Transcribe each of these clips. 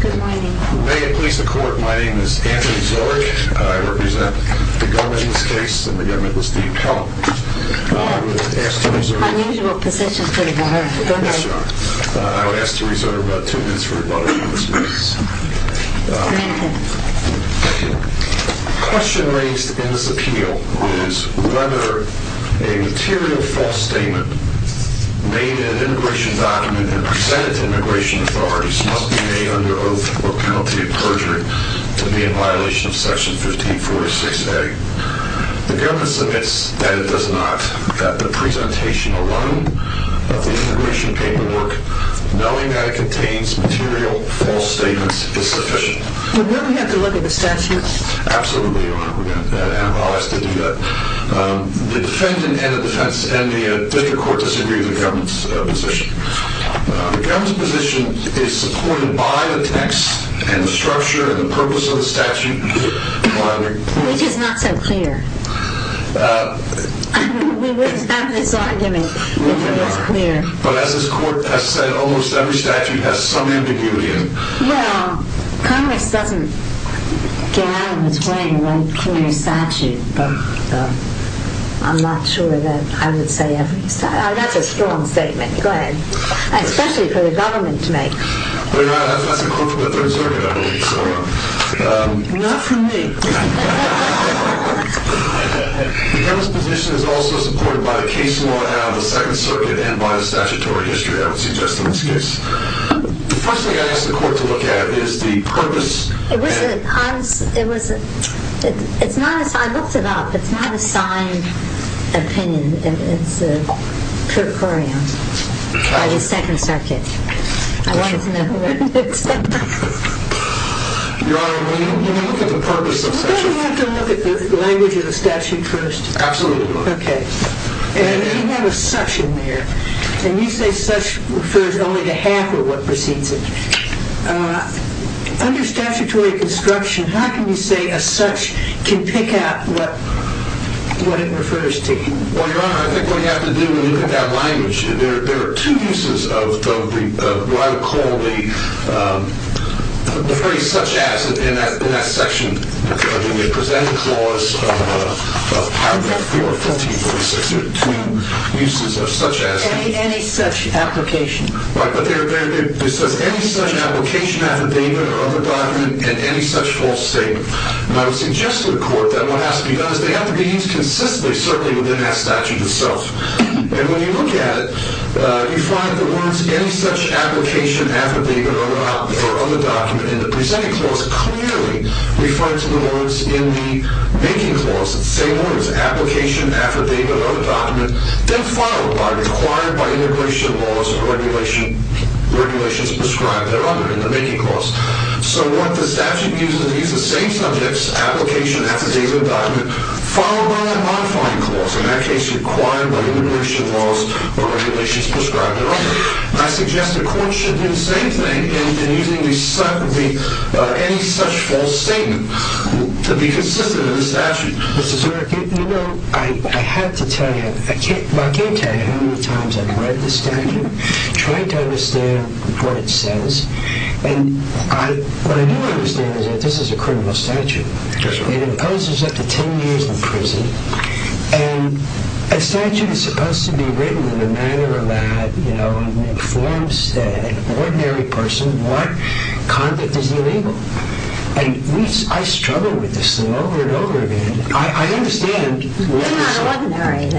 Good morning. May it please the court, my name is Anthony Zorich. I represent the government in this case and the government was deemed helpless. I would ask to reserve about 2 minutes for rebuttal in this case. The question raised in this appeal is whether a material false statement made in an immigration document and presented to immigration authorities must be made under oath or penalty of perjury to be in violation of section 1546A. The government submits that it does not, that the presentation alone of the immigration paperwork knowing that it contains material false statements is sufficient. Will we have to look at the statute? Absolutely, Your Honor. We're going to have to do that. The defendant and the defense and the district court disagree with the government's position. The government's position is supported by the text and the structure and the purpose of the statute. Which is not so clear. We wouldn't have this argument if it was clear. But as this court has said, almost every statute has some ambiguity in it. Well, Congress doesn't get out of its way and write clear statute, but I'm not sure that I would say every statute. That's a strong statement. Go ahead. Especially for the government to make. That's a quote from the Third Circuit, I believe. Not from me. The government's position is also supported by the case law now in the Second Circuit and by the statutory history, I would suggest in this case. The first thing I ask the court to look at is the purpose. It wasn't. I looked it up. It's not a signed opinion. It's a curcorium by the Second Circuit. I wanted to know who wrote it. Your Honor, when you look at the purpose of the statute. Don't we have to look at the language of the statute first? Absolutely. Okay. And you have a such in there. And you say such refers only to half of what precedes it. Under statutory construction, how can you say a such can pick out what it refers to? Well, Your Honor, I think what you have to do when you look at that language. There are two uses of what I would call the phrase such as in that section. I mean, they present a clause of 1546. There are two uses of such as. Any such application. Right. But it says any such application affidavit or other document and any such false statement. And I would suggest to the court that what has to be done is they have to be used consistently. Certainly within that statute itself. And when you look at it, you find the words any such application affidavit or other document. And the presenting clause clearly referred to the words in the making clause. It's the same words. Application, affidavit, or other document. Then followed by required by immigration laws or regulations prescribed there under in the making clause. So what the statute uses is the same subjects application affidavit or other document. Followed by the modifying clause. In that case, required by immigration laws or regulations prescribed there under. I suggest the court should do the same thing in using any such false statement to be consistent in the statute. Mr. Zurich, you know, I have to tell you. I can't tell you how many times I've read the statute, tried to understand what it says. And what I do understand is that this is a criminal statute. It imposes up to ten years in prison. And a statute is supposed to be written in a manner that, you know, informs an ordinary person what conduct is illegal. And I struggle with this thing over and over again. I understand. Yeah, I wasn't there either. Well,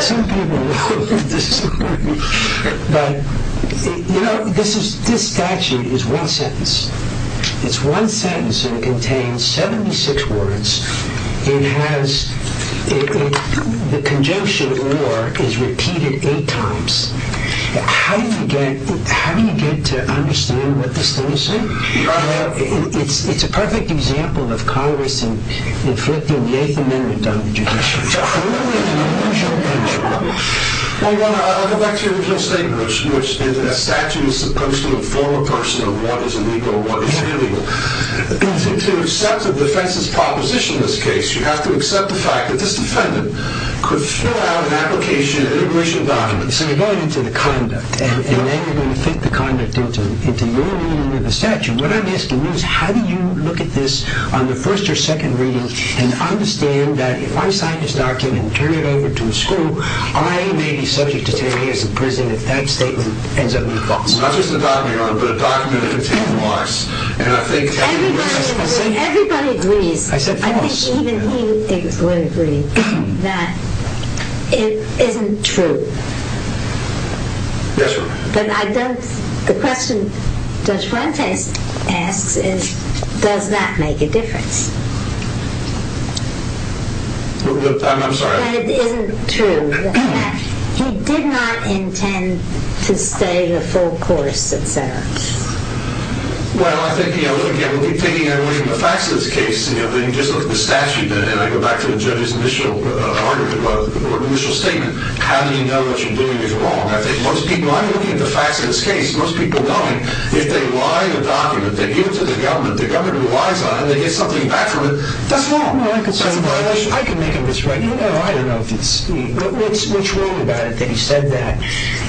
some people know that this is important. But, you know, this statute is one sentence. It's one sentence and it contains 76 words. It has the conjunction war is repeated eight times. How do you get to understand what this thing is saying? Well, it's a perfect example of Congress inflicting the Eighth Amendment on the judiciary. Well, I'll go back to your original statement, which is that a statute is supposed to inform a person of what is illegal and what is illegal. To accept the defense's proposition in this case, you have to accept the fact that this defendant could fill out an application and immigration document. So you're going into the conduct. And then you're going to fit the conduct into your reading of the statute. What I'm asking you is how do you look at this on the first or second reading and understand that if I sign this document and turn it over to a school, I may be subject to ten years in prison if that statement ends up being false? Well, not just a document, Your Honor, but a document that contains the words. Everybody agrees. I said false. Even he would agree that it isn't true. Yes, Your Honor. But the question Judge Fuentes asks is does that make a difference? I'm sorry. But it isn't true. Well, I think, you know, again, we'll be taking that away from the facts of this case. You know, then you just look at the statute. And I go back to the judge's initial argument or initial statement. How do you know what you're doing is wrong? I think most people, I'm looking at the facts of this case. Most people know it. If they lie in a document, they give it to the government, the government relies on it, they get something back from it, that's wrong. I can make a mistake. I don't know. What's wrong about it that he said that,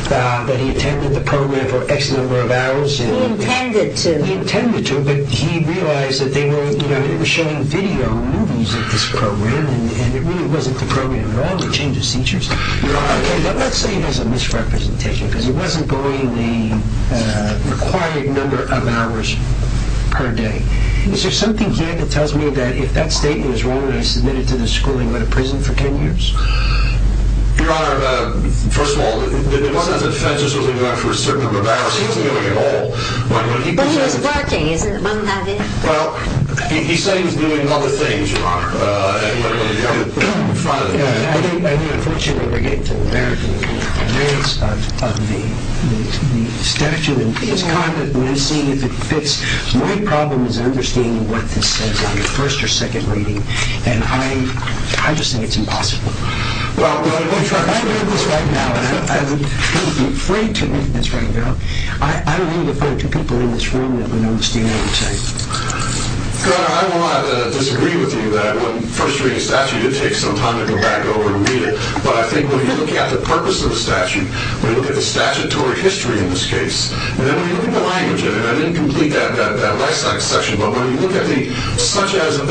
that he attended the program for X number of hours? He intended to. He intended to, but he realized that they were showing video movies of this program and it really wasn't the program at all, the change of seizures. Your Honor, let's say there's a misrepresentation because it wasn't going the required number of hours per day. Is there something here that tells me that if that statement is wrong and I submit it to the school, I'm going to prison for 10 years? Your Honor, first of all, it wasn't that the defense wasn't going for a certain number of hours. He wasn't doing it at all. But he was working, wasn't that it? Well, he said he was doing other things, Your Honor. I think, unfortunately, we're getting to the American advance of the statute. It's kind of missing if it fits. My problem is understanding what this says in the first or second reading. And I just think it's impossible. If I read this right now, and I would be afraid to read this right now, I don't need to find two people in this room that would understand what I'm saying. Your Honor, I don't want to disagree with you that when the first reading of the statute, it takes some time to go back over and read it. But I think when you look at the purpose of the statute, when you look at the statutory history in this case, and then when you look at the language, and I didn't complete that last section, but when you look at the, such as a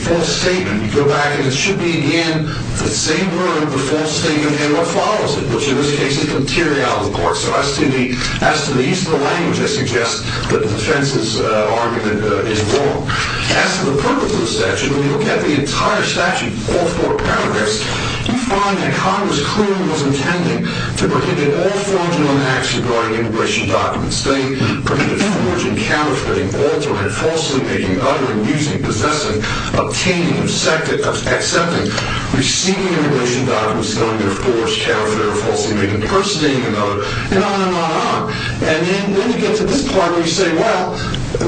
false statement, you go back and it should be, again, the same word, the false statement, and what follows it, which in this case is the materiality of the court. So as to the use of the language, I suggest that the defense's argument is wrong. As to the purpose of the statute, when you look at the entire statute, all four paragraphs, you find that Congress clearly was intending to prohibit all forging on acts regarding immigration documents. They prohibited forging, counterfeiting, altering, falsely making, uttering, using, possessing, obtaining, accepting, receiving immigration documents, knowing they're forged, counterfeiting or falsely made, impersonating another, and on and on and on. And then you get to this part where you say, well,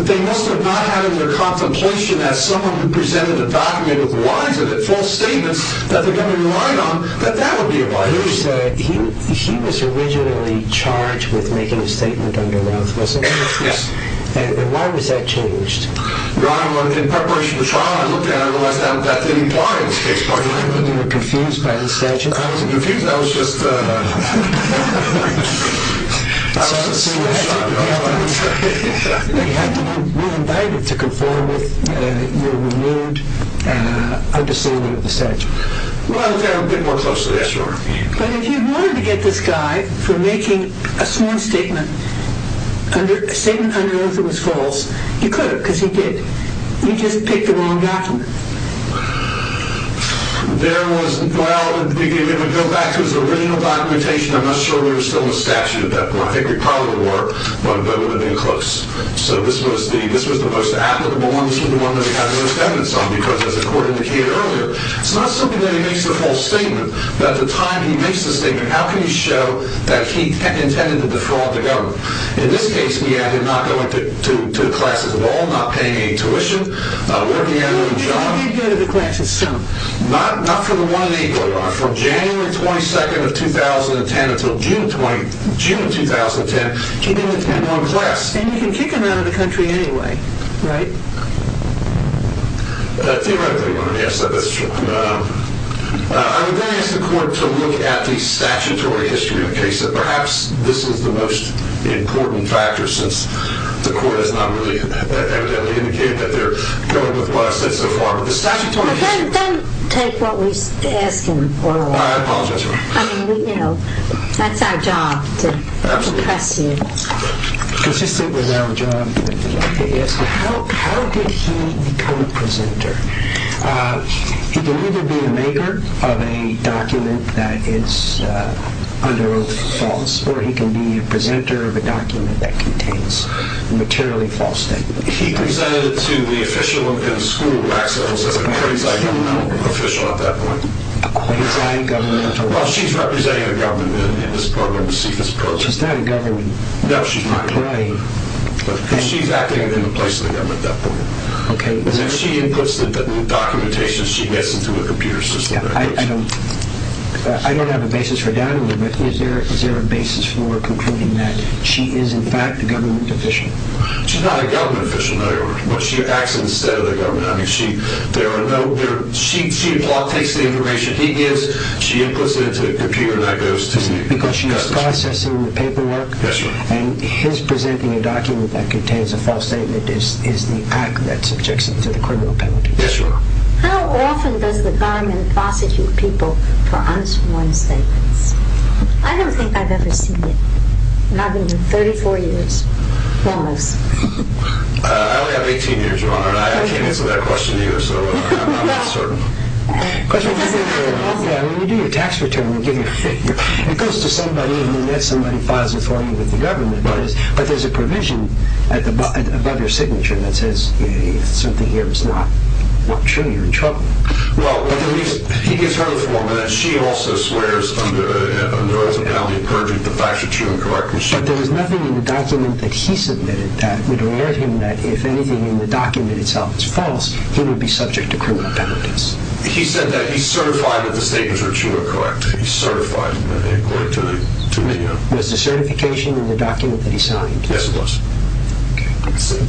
they must have not had in their contemplation that someone who presented a document with lines of it, false statements, that they're going to rely on, that that would be a violation. He was originally charged with making a statement under Routh, wasn't he? Yes. And why was that changed? Your Honor, in preparation for trial, I looked at it and realized that didn't apply in this case. You were confused by the statute? I wasn't confused. I was just... I was just... You were invited to conform with your renewed understanding of the statute. Well, I was there a bit more closely, yes, Your Honor. But if you wanted to get this guy for making a small statement, a statement under Routh that was false, you could have, because he did. You just picked the wrong document. There was, well, if we go back to his original documentation, I'm not sure we were still in the statute at that point. I think we probably were, but it would have been close. So this was the most applicable one. This was the one that he had the most evidence on, because as the court indicated earlier, it's not simply that he makes a false statement, but at the time he makes the statement, how can you show that he intended to defraud the government? In this case, he ended up not going to classes at all, not paying any tuition, working at a new job. He did go to the classes some. Not for the one and equal, Your Honor. From January 22nd of 2010 until June 2010, he didn't attend one class. And you can kick him out of the country anyway, right? Theoretically, Your Honor, yes, that's true. I would ask the court to look at the statutory history of the case, that perhaps this is the most important factor, since the court has not really evidently indicated that they're going with what I've said so far. Don't take what we ask in oral. I apologize, Your Honor. I mean, you know, that's our job to impress you. Consistent with our job, I'd like to ask you, how did he become a presenter? He can either be a maker of a document that is under oath false, or he can be a presenter of a document that contains a materially false statement. He presented it to the official in the school, Maxwell, who was a quasi-governmental official at that point. A quasi-governmental? Well, she's representing the government in this program, the CFS program. She's not a government employee. No, she's not a government employee. Because she's acting in the place of the government at that point. Okay. If she inputs the documentation, she gets into a computer system. I don't have a basis for doubt, Your Honor. But is there a basis for concluding that she is, in fact, a government official? She's not a government official, no, Your Honor. But she acts instead of the government. I mean, she takes the information he gives. She inputs it into a computer and that goes to me. Because she is processing the paperwork? Yes, Your Honor. And his presenting a document that contains a false statement is the act that subjects him to the criminal penalty? Yes, Your Honor. How often does the government prosecute people for unsworn statements? I don't think I've ever seen it. Not even 34 years. Almost. I only have 18 years, Your Honor. I can't answer that question to you, so I'm not certain. When you do your tax return, it goes to somebody and then that somebody files it for you with the government. But there's a provision above your signature that says if something here is not true, you're in trouble. Well, at least he gives her the form and then she also swears under the penalty of perjury that the facts are true and correct. But there was nothing in the document that he submitted that would alert him that if anything in the document itself is false, he would be subject to criminal penalties. He said that he certified that the statements were true and correct. He certified it according to the document. Was the certification in the document that he signed? Yes, it was.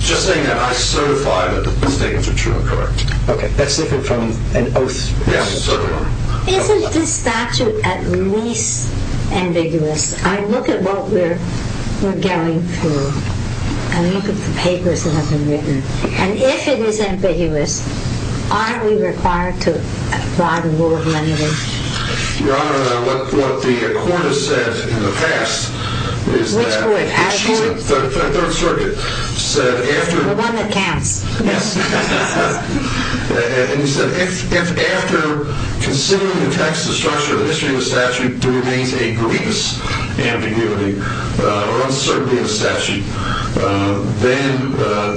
Just saying that I certify that the statements are true and correct. Okay, that's different from an oath. Yes, certainly. Isn't this statute at least ambiguous? I look at what we're going through and look at the papers that have been written. And if it is ambiguous, are we required to apply the rule of leniency? Your Honor, what the court has said in the past is that the Third Circuit said after... The one that counts. Yes. And he said if after considering the text, the structure, the history of the statute, there remains a grievous ambiguity or uncertainty in the statute, then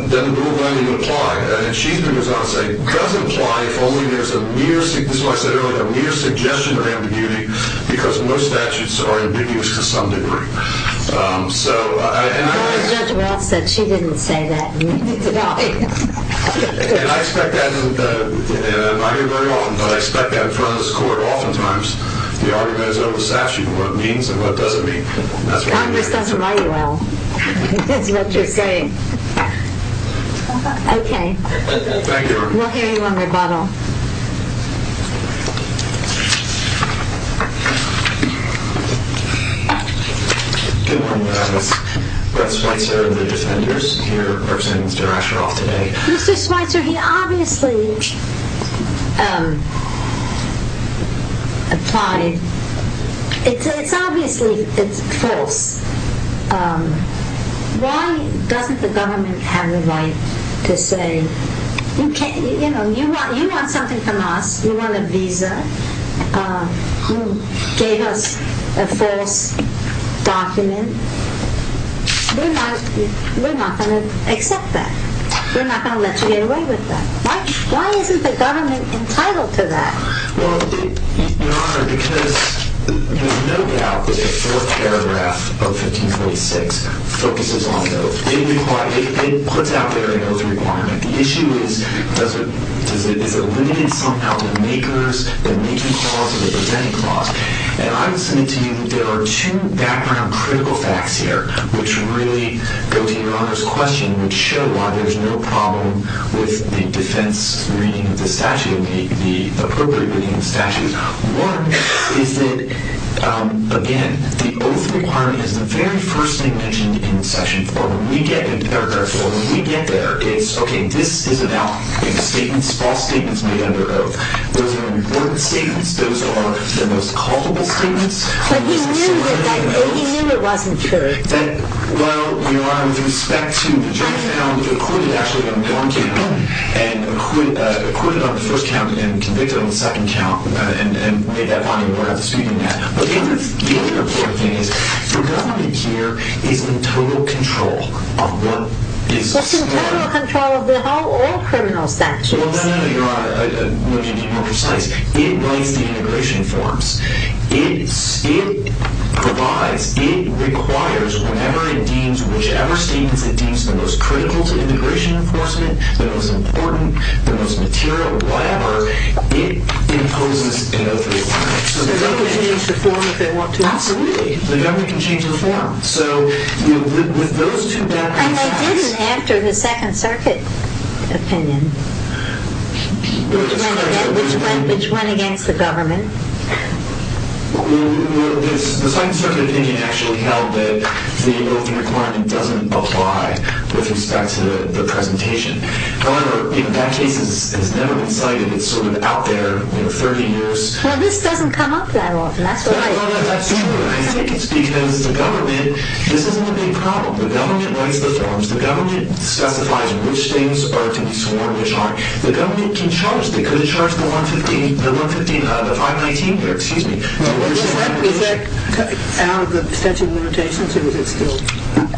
the rule of leniency would apply. And she, through Ms. Gonsai, does imply if only there's a mere, this is what I said earlier, a mere suggestion of ambiguity because most statutes are ambiguous to some degree. So... Judge Welch said she didn't say that. No. And I expect that, and I hear it very often, but I expect that in front of this court oftentimes the argument is over the statute, what it means and what it doesn't mean. Congress doesn't like you, Al. That's what you're saying. Okay. Thank you, Your Honor. We'll hear you on rebuttal. Good morning, Your Honor. Brett Schweitzer of the Defenders here representing Mr Asheroff today. Mr Schweitzer, he obviously... ...applied... It's obviously false. Why doesn't the government have the right to say, you know, you want something from us, you want a visa, you gave us a false document. We're not going to accept that. We're not going to let you get away with that. Why isn't the government entitled to that? Well, Your Honor, because there's no doubt that the fourth paragraph of 1546 focuses on those. It puts out there those requirements. The issue is does it... ...the making clause or the presenting clause. And I would submit to you that there are two background critical facts here which really go to Your Honor's question which show why there's no problem with the defense reading of the statute, the appropriate reading of the statute. One is that, again, the oath requirement is the very first thing mentioned in Section 4. When we get there, it's, okay, this is about statements, false statements made under oath. Those are important statements. Those are the most culpable statements. But he knew it wasn't true. That, well, Your Honor, with respect to... The judge found that the court had actually done one count and acquitted on the first count and convicted on the second count and made that finding without disputing that. But the other important thing is the government here is in total control of what is... Well, no, no, Your Honor, let me be more precise. It writes the integration forms. It provides, it requires, whenever it deems, whichever statements it deems the most critical to integration enforcement, the most important, the most material, whatever, it imposes an oath requirement. So the government can change the form if they want to. Absolutely. The government can change the form. So with those two background facts... And they didn't after the Second Circuit opinion, which went against the government. Well, the Second Circuit opinion actually held that the oath requirement doesn't apply with respect to the presentation. However, that case has never been cited. It's sort of out there, you know, 30 years. Well, this doesn't come up that often. That's what I... I think it's because the government, this isn't a big problem. The government writes the forms. The government specifies which things are to be sworn, which aren't. The government can charge. They could have charged the 115, the 519 here. Excuse me. Is that out of the statute of limitations, or is it still...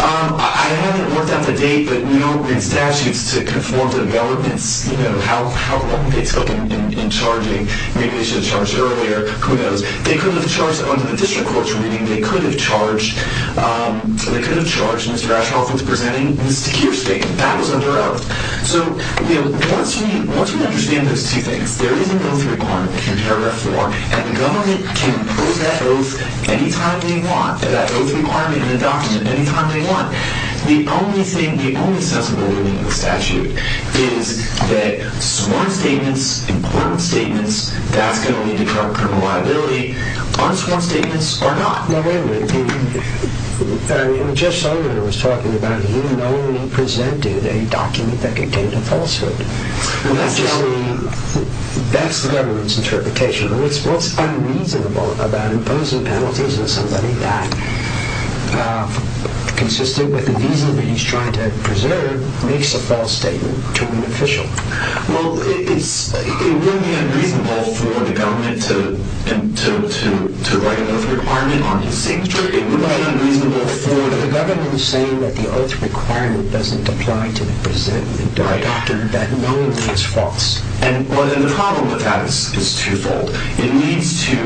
I haven't worked out the date, but you know, in statutes to conform developments, you know, how long they took in charging. Maybe they should have charged earlier. Who knows? They could have charged under the district court's reading. They could have charged Mr. Ashcroft with presenting the secure statement. That was under oath. So, you know, once you understand those two things, there is an oath requirement in paragraph 4, and the government can impose that oath anytime they want, that oath requirement in the document, anytime they want. The only thing, the only sensible ruling in the statute is that sworn statements, important statements, that's going to lead to current criminal liability. Honestly, sworn statements are not. No, wait a minute. I mean, Jeff Sullivan was talking about he only presented a document that contained a falsehood. That's the government's interpretation. What's unreasonable about imposing penalties on somebody that, consistent with the reason that he's trying to preserve, makes a false statement to an official? Well, it would be unreasonable for the government to write an oath requirement on his signature. It would be unreasonable for the government... But the government is saying that the oath requirement doesn't apply to the presented document. Right. That knowingly is false. Well, then the problem with that is twofold. It needs to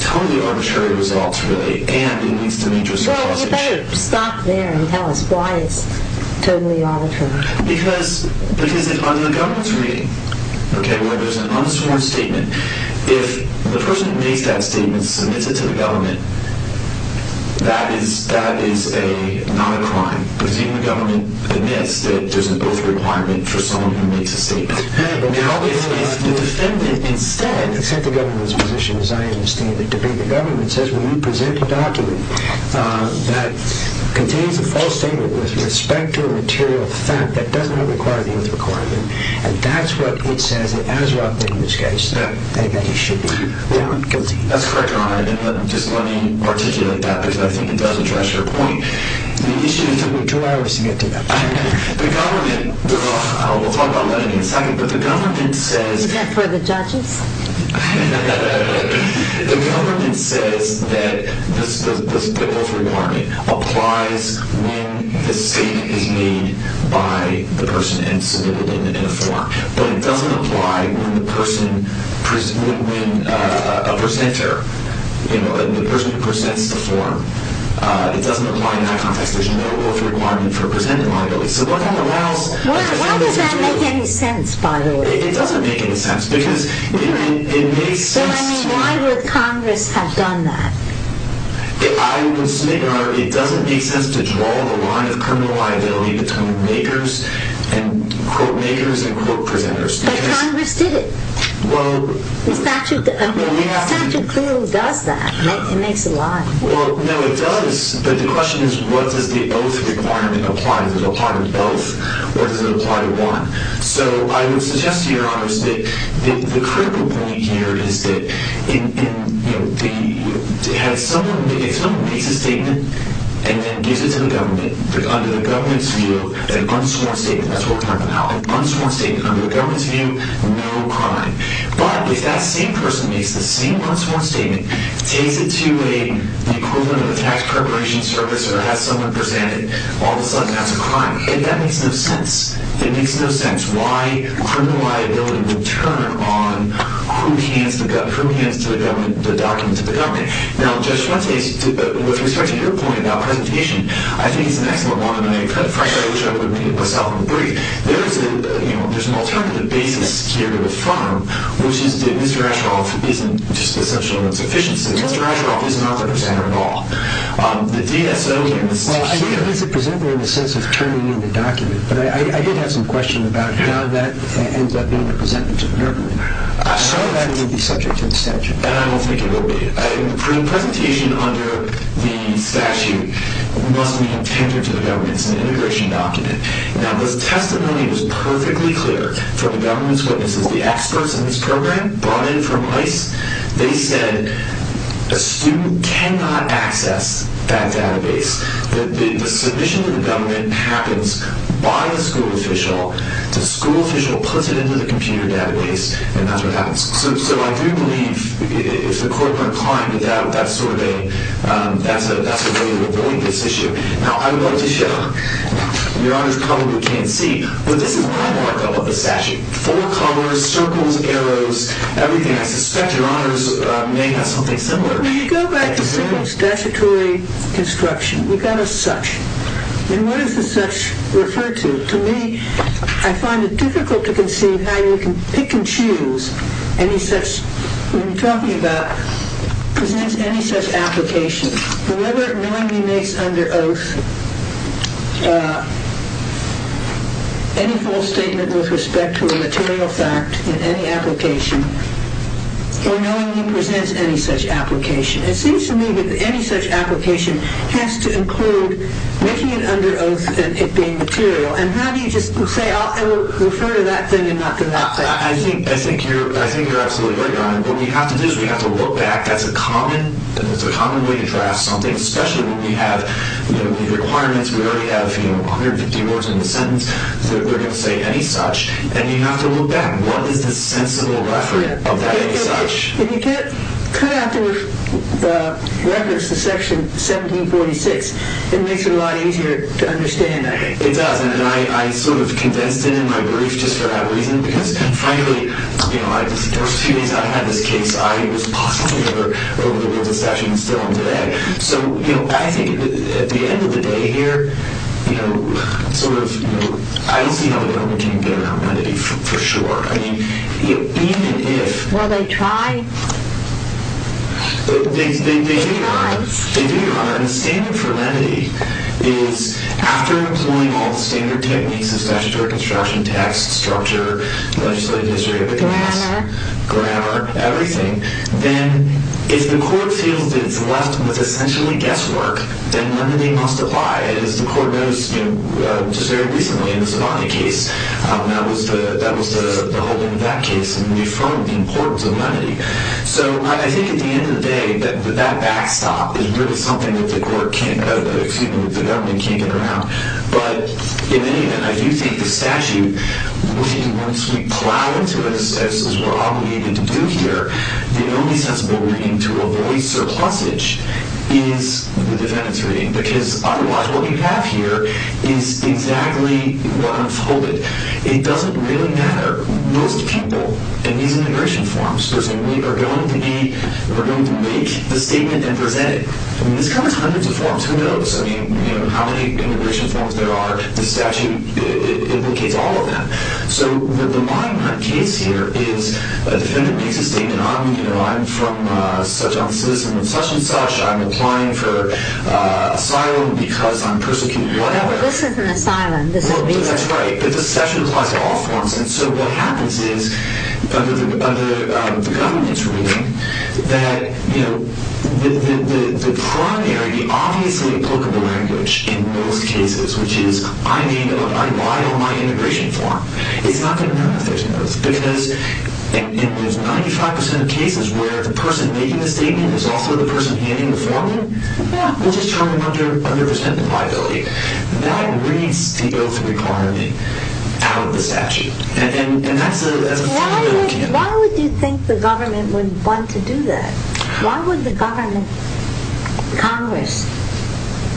tell the arbitrary results, really, and it needs to make just a proposition. Well, you better stop there and tell us why it's totally arbitrary. Because under the government's reading, okay, there's an unsworn statement. If the person who makes that statement submits it to the government, that is not a crime, because even the government admits that there's an oath requirement for someone who makes a statement. Now, if the defendant instead... Except the government's position, as I understand it, the government says, when you present a document that contains a false statement with respect to a material fact that does not require the oath requirement, and that's what it says, it has what I think in this case, that the defendant should be found guilty. That's correct, Your Honor, and just let me articulate that, because I think it does address your point. The issue is... We have two hours to get to that point. The government... We'll talk about that in a second, but the government says... Is that for the judges? The government says that the oath requirement applies when the statement is made by the person and submitted in a form, but it doesn't apply when the person... When a presenter, you know, the person who presents the form, it doesn't apply in that context. There's no oath requirement for presenting liabilities. So what that allows... Why does that make any sense, by the way? It doesn't make any sense, because it makes sense to... So, I mean, why would Congress have done that? I would submit, Your Honor, it doesn't make sense to draw the line of criminal liability between makers and... Quote makers and quote presenters. But Congress did it. Well... The statute clearly does that. It makes a line. Well, no, it does, but the question is, what does the oath requirement apply to? Does it apply to both, or does it apply to one? So I would suggest to Your Honor that the critical point here is that if someone makes a statement and then gives it to the government, under the government's view, an unsworn statement, that's what we're talking about, an unsworn statement under the government's view, no crime. But if that same person makes the same unsworn statement, takes it to the equivalent of a tax preparation service or has someone present it, all of a sudden, that's a crime. That makes no sense. It makes no sense why criminal liability would turn on who hands the document to the government. Now, Judge Fuentes, with respect to your point about presentation, I think it's an excellent one, and I, frankly, I wish I would have made it myself on the brief. There's an alternative basis here to affirm, which is that Mr. Ashcroft isn't just an assumption of insufficiency. Mr. Ashcroft is not a presenter at all. The DSO is here. Well, I think he's a presenter in the sense of turning in the document, but I did have some question about how that ends up being presented to the government. So that would be subject to the statute. And I don't think it will be. In the presentation under the statute, it must be intended to the government. It's an immigration document. Now, this testimony was perfectly clear from the government's witnesses. The experts in this program brought in from ICE. They said a student cannot access that database. The submission to the government happens by the school official. The school official puts it into the computer database, and that's what happens. So I do believe if the court were inclined, that's a way to avoid this issue. Now, I would like to show, Your Honor's probably can't see, but this is my markup of the statute. Four colors, circles, arrows, everything. I suspect Your Honor may have something similar. But when you go back to simple statutory construction, we've got a such. And what does the such refer to? To me, I find it difficult to conceive how you can pick and choose any such. What I'm talking about presents any such application. Whoever knowingly makes under oath any full statement with respect to a material fact in any application or knowingly presents any such application. It seems to me that any such application has to include making it under oath and it being material. And how do you just say, I think you're absolutely right, Your Honor. What we have to do is we have to look back. That's a common way to draft something, especially when we have requirements. We already have 150 words in the sentence that we're going to say any such. And you have to look back. What is the sensible record of that such? If you cut out the records to section 1746, it makes it a lot easier to understand, I think. It does, and I sort of condensed it in my brief just for that reason. Because frankly, the first few days I had this case, I was possibly over the rules of statute and still am today. So I think at the end of the day here, I don't see how the government can get around lenity for sure. Well, they tried. They did, Your Honor. And the standard for lenity is after employing all the standard techniques of statutory construction, text, structure, legislative history, evidence. Grammar. Grammar, everything. Then if the court feels that it's left with essentially guesswork, then lenity must apply. As the court noticed just very recently in the Sabani case, that was the holding of that case in referring to the importance of lenity. So I think at the end of the day, that backstop is really something that the government can't get around. But in any event, I do think the statute, once we plow into it as we're obligated to do here, the only sensible reading to avoid surplusage is the defendant's reading. Because otherwise, what you have here is exactly what unfolded. It doesn't really matter. Most people in these immigration forms are going to make the statement and present it. I mean, this covers hundreds of forms. Who knows? I mean, how many immigration forms there are? The statute implicates all of them. So the Monument case here is a defendant makes a statement. I'm from such and such. I'm applying for asylum because I'm persecuted. Whatever. This isn't asylum. This is visa. That's right. But the statute applies to all forms. And so what happens is, under the government's reading, that the primary, obviously applicable language in most cases, which is, I'm being allowed to apply on my immigration form, it's not going to matter if there's both. Because in those 95% of cases where the person making the statement is also the person handing the form, we'll just turn it under the percent of liability. That reads the oath of requirement out of the statute. And that's a fundamental candidate. Why would you think the government would want to do that? Why would the government, Congress,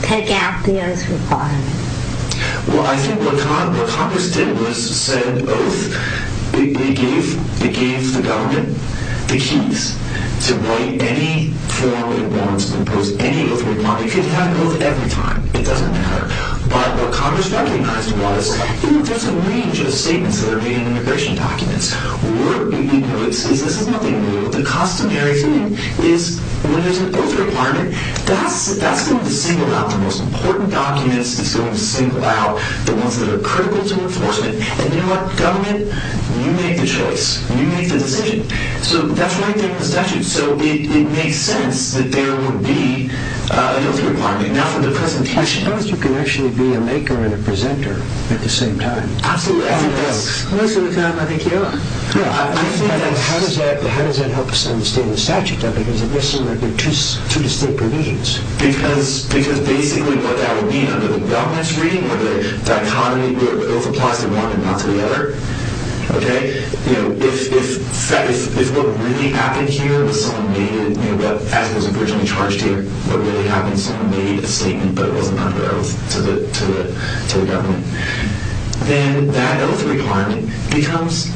take out the oath of requirement? Well, I think what Congress did was set an oath. They gave the government the keys to write any form it wants, impose any oath it wanted. You could have an oath every time. It doesn't matter. But what Congress recognized was, there's a range of statements that The customary thing is, when there's an oath of requirement, that's going to single out the most important documents. It's going to single out the ones that are critical to enforcement. And you know what, government, you make the choice. You make the decision. So that's the right thing in the statute. So it makes sense that there would be an oath of requirement. Now for the presentation. I suppose you can actually be a maker and a presenter at the same time. Absolutely. Most of the time, I think you are. How does that help us understand the statute? Because it looks like there are two distinct provisions. Because basically, what that would mean under the government's reading, or the dichotomy where the oath applies to one and not to the other. OK? If what really happened here was someone made it, as it was originally charged here, what really happened is someone made a statement, but it wasn't under oath to the government. Then that oath of requirement becomes,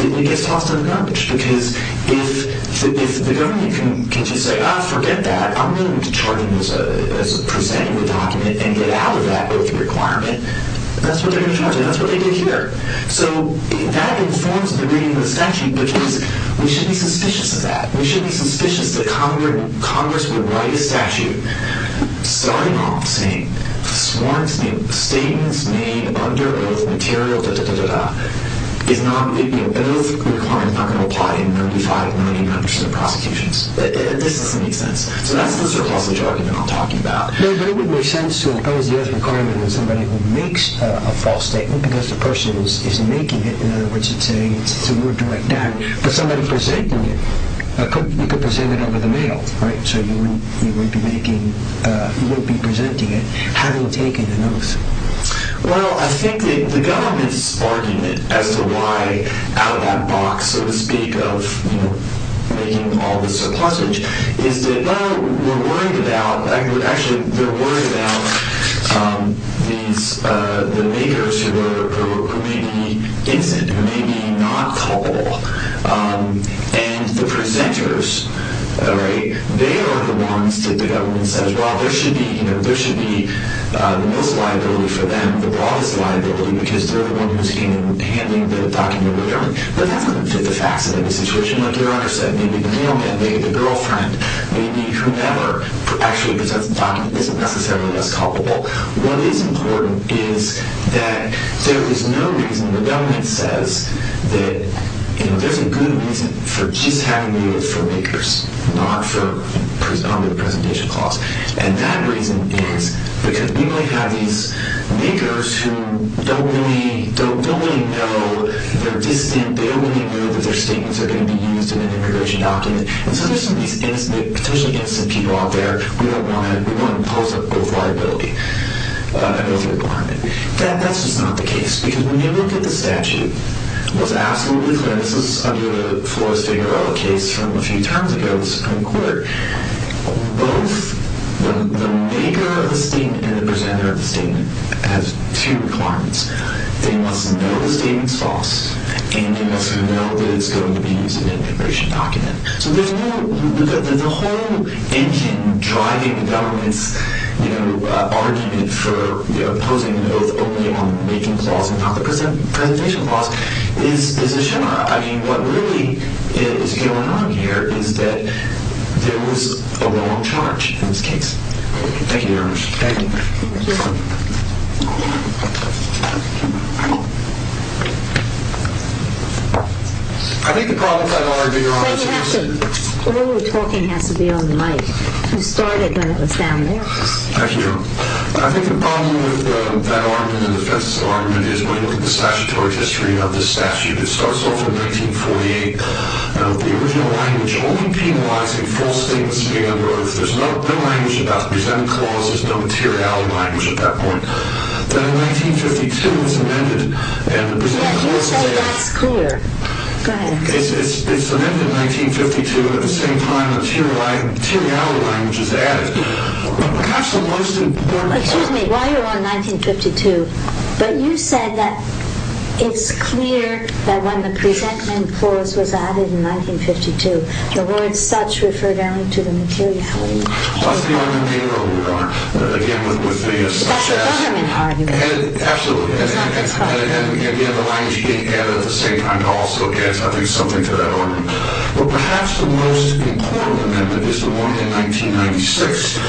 it gets tossed under the garbage. Because if the government can just say, ah, forget that. I'm going to charge them as presenting the document and get out of that oath of requirement, that's what they're going to charge me. That's what they did here. So that informs the reading of the statute. Because we should be suspicious of that. We should be suspicious that Congress would write a statute starting off saying, statements made under oath material, da-da-da-da-da, is not, oath requirement is not going to apply in 95% or 99% of prosecutions. This doesn't make sense. So that's the surplus of jargon that I'm talking about. No, but it would make sense to impose the oath of requirement on somebody who makes a false statement, because the person is making it. In other words, it's a word to write down. But somebody presenting it, you could present it over the mail, right? So you wouldn't be making, you wouldn't be presenting it, having taken an oath. Well, I think that the government's argument as to why out of that box, so to speak, of making all this surplusage, is that, no, we're worried about, actually, we're worried about these, the makers who may be innocent, who may be not culpable, and the presenters, right? They are the ones that the government says, well, there should be, you know, there should be the most liability for them, the broadest liability, because they're the one who's handling the document. But that doesn't fit the facts of the situation. Like your Honor said, maybe the mailman, maybe the girlfriend, maybe whomever actually presents the document isn't necessarily less culpable. What is important is that there is no reason the government says that, you know, there's a good reason for just having the oath for makers, not on the presentation clause. And that reason is because we might have these makers who don't really know, they're distant, they don't really know that their statements are going to be used in an immigration document. And so there's some of these potentially innocent people out there, we don't want to impose a liability, an oath requirement. That's just not the case, because when you look at the statute, what's absolutely clear, and this is under the Flores-Figueroa case from a few terms ago, this is kind of clear, both the maker of the statement and the presenter of the statement have two requirements. They must know the statement's false, and they must know that it's going to be used in an immigration document. So there's no... the whole engine driving the government's argument for imposing an oath only on the making clause and not the presentation clause is a sham. I mean, what really is going on here is that there was a wrong charge in this case. Thank you very much. Thank you. Thank you. I think the problem with that argument, to be honest... Wait, you have to... All the talking has to be on the mic. You started when it was down there. Thank you. I think the problem with that argument and the defensive argument is when you look at the statutory history of this statute, it starts off in 1948. Now, the original language only penalizing false statements made under oath. There's no language about the presenting clause. There's no materiality language at that point. Then in 1952, it was amended, and the presenting clause... Yes, you say that's clear. Go ahead. It's amended in 1952, but at the same time, materiality language is added. Perhaps the most important... Excuse me. While you're on 1952, but you said that it's clear that when the presenting clause was added in 1952, the word such referred only to the materiality language. That's the argument we wrote, Your Honor. Again, with the... That's the government argument. Absolutely. It's not this country. And yet the language being added at the same time also adds, I think, something to that argument. But perhaps the most important amendment is the one in 1996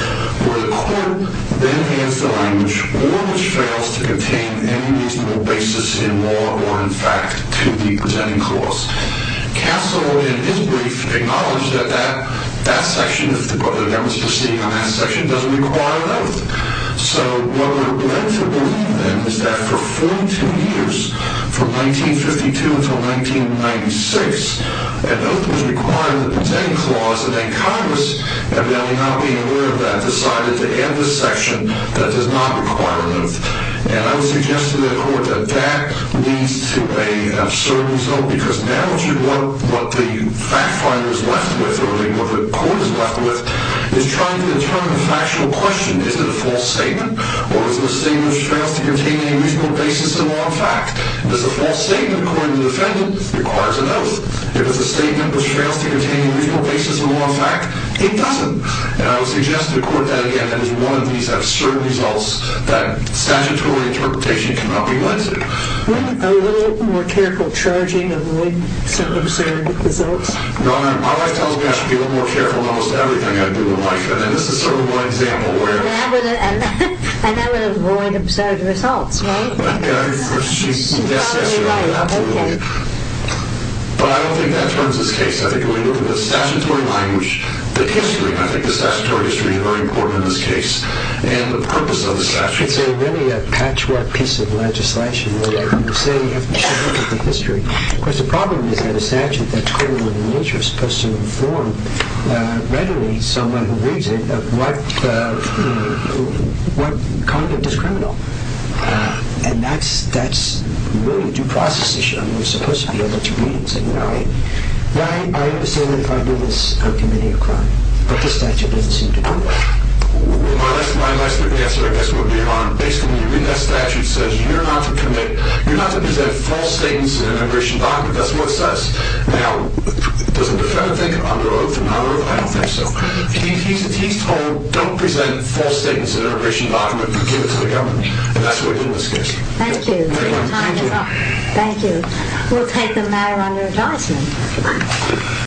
where the court then has the language or which fails to contain any reasonable basis in law or in fact to the presenting clause. Castlewood, in his brief, acknowledged that that section, if the government was proceeding on that section, doesn't require an oath. So what led to the ruling then was that for 42 years, from 1952 until 1996, an oath was required in the presenting clause, and then Congress, evidently not being aware of that, decided to add the section that does not require an oath. And I would suggest to the court that that leads to an absurd result because now what the fact finder is left with, or what the court is left with, is trying to determine the factual question. Is it a false statement? Or is it a statement which fails to contain any reasonable basis in law and fact? Does a false statement, according to the defendant, require an oath? If it's a statement which fails to contain any reasonable basis in law and fact, it doesn't. And I would suggest to the court that again, if one of these have certain results that statutory interpretation cannot be led to. Wouldn't a little more careful charging avoid some absurd results? No, no. My wife tells me I should be a little more careful in almost everything I do in life. And this is sort of one example where... And that would avoid absurd results, right? Yeah, of course. She's absolutely right. Absolutely. Okay. But I don't think that turns this case. I think when you look at the statutory language, the history, and I think the statutory history is going to be very important in this case. And the purpose of the statute... It's a really patchwork piece of legislation where you say you should look at the history. Of course, the problem is that a statute that's criminal in nature is supposed to inform readily someone who reads it of what conduct is criminal. And that's really a due process issue. I mean, you're supposed to be able But the statute doesn't seem to do that. I mean, if I do this, I'm committing a crime. But the statute doesn't seem to do that. My last question, I guess, would be on... Basically, that statute says you're not to commit... You're not to present false statements in an immigration document. That's what it says. Now, does the defendant think it under oath? No, I don't think so. He's told, don't present false statements in an immigration document. Give it to the government. And that's what he did in this case. Thank you. Your time is up. Thank you. We'll take them now under advisement.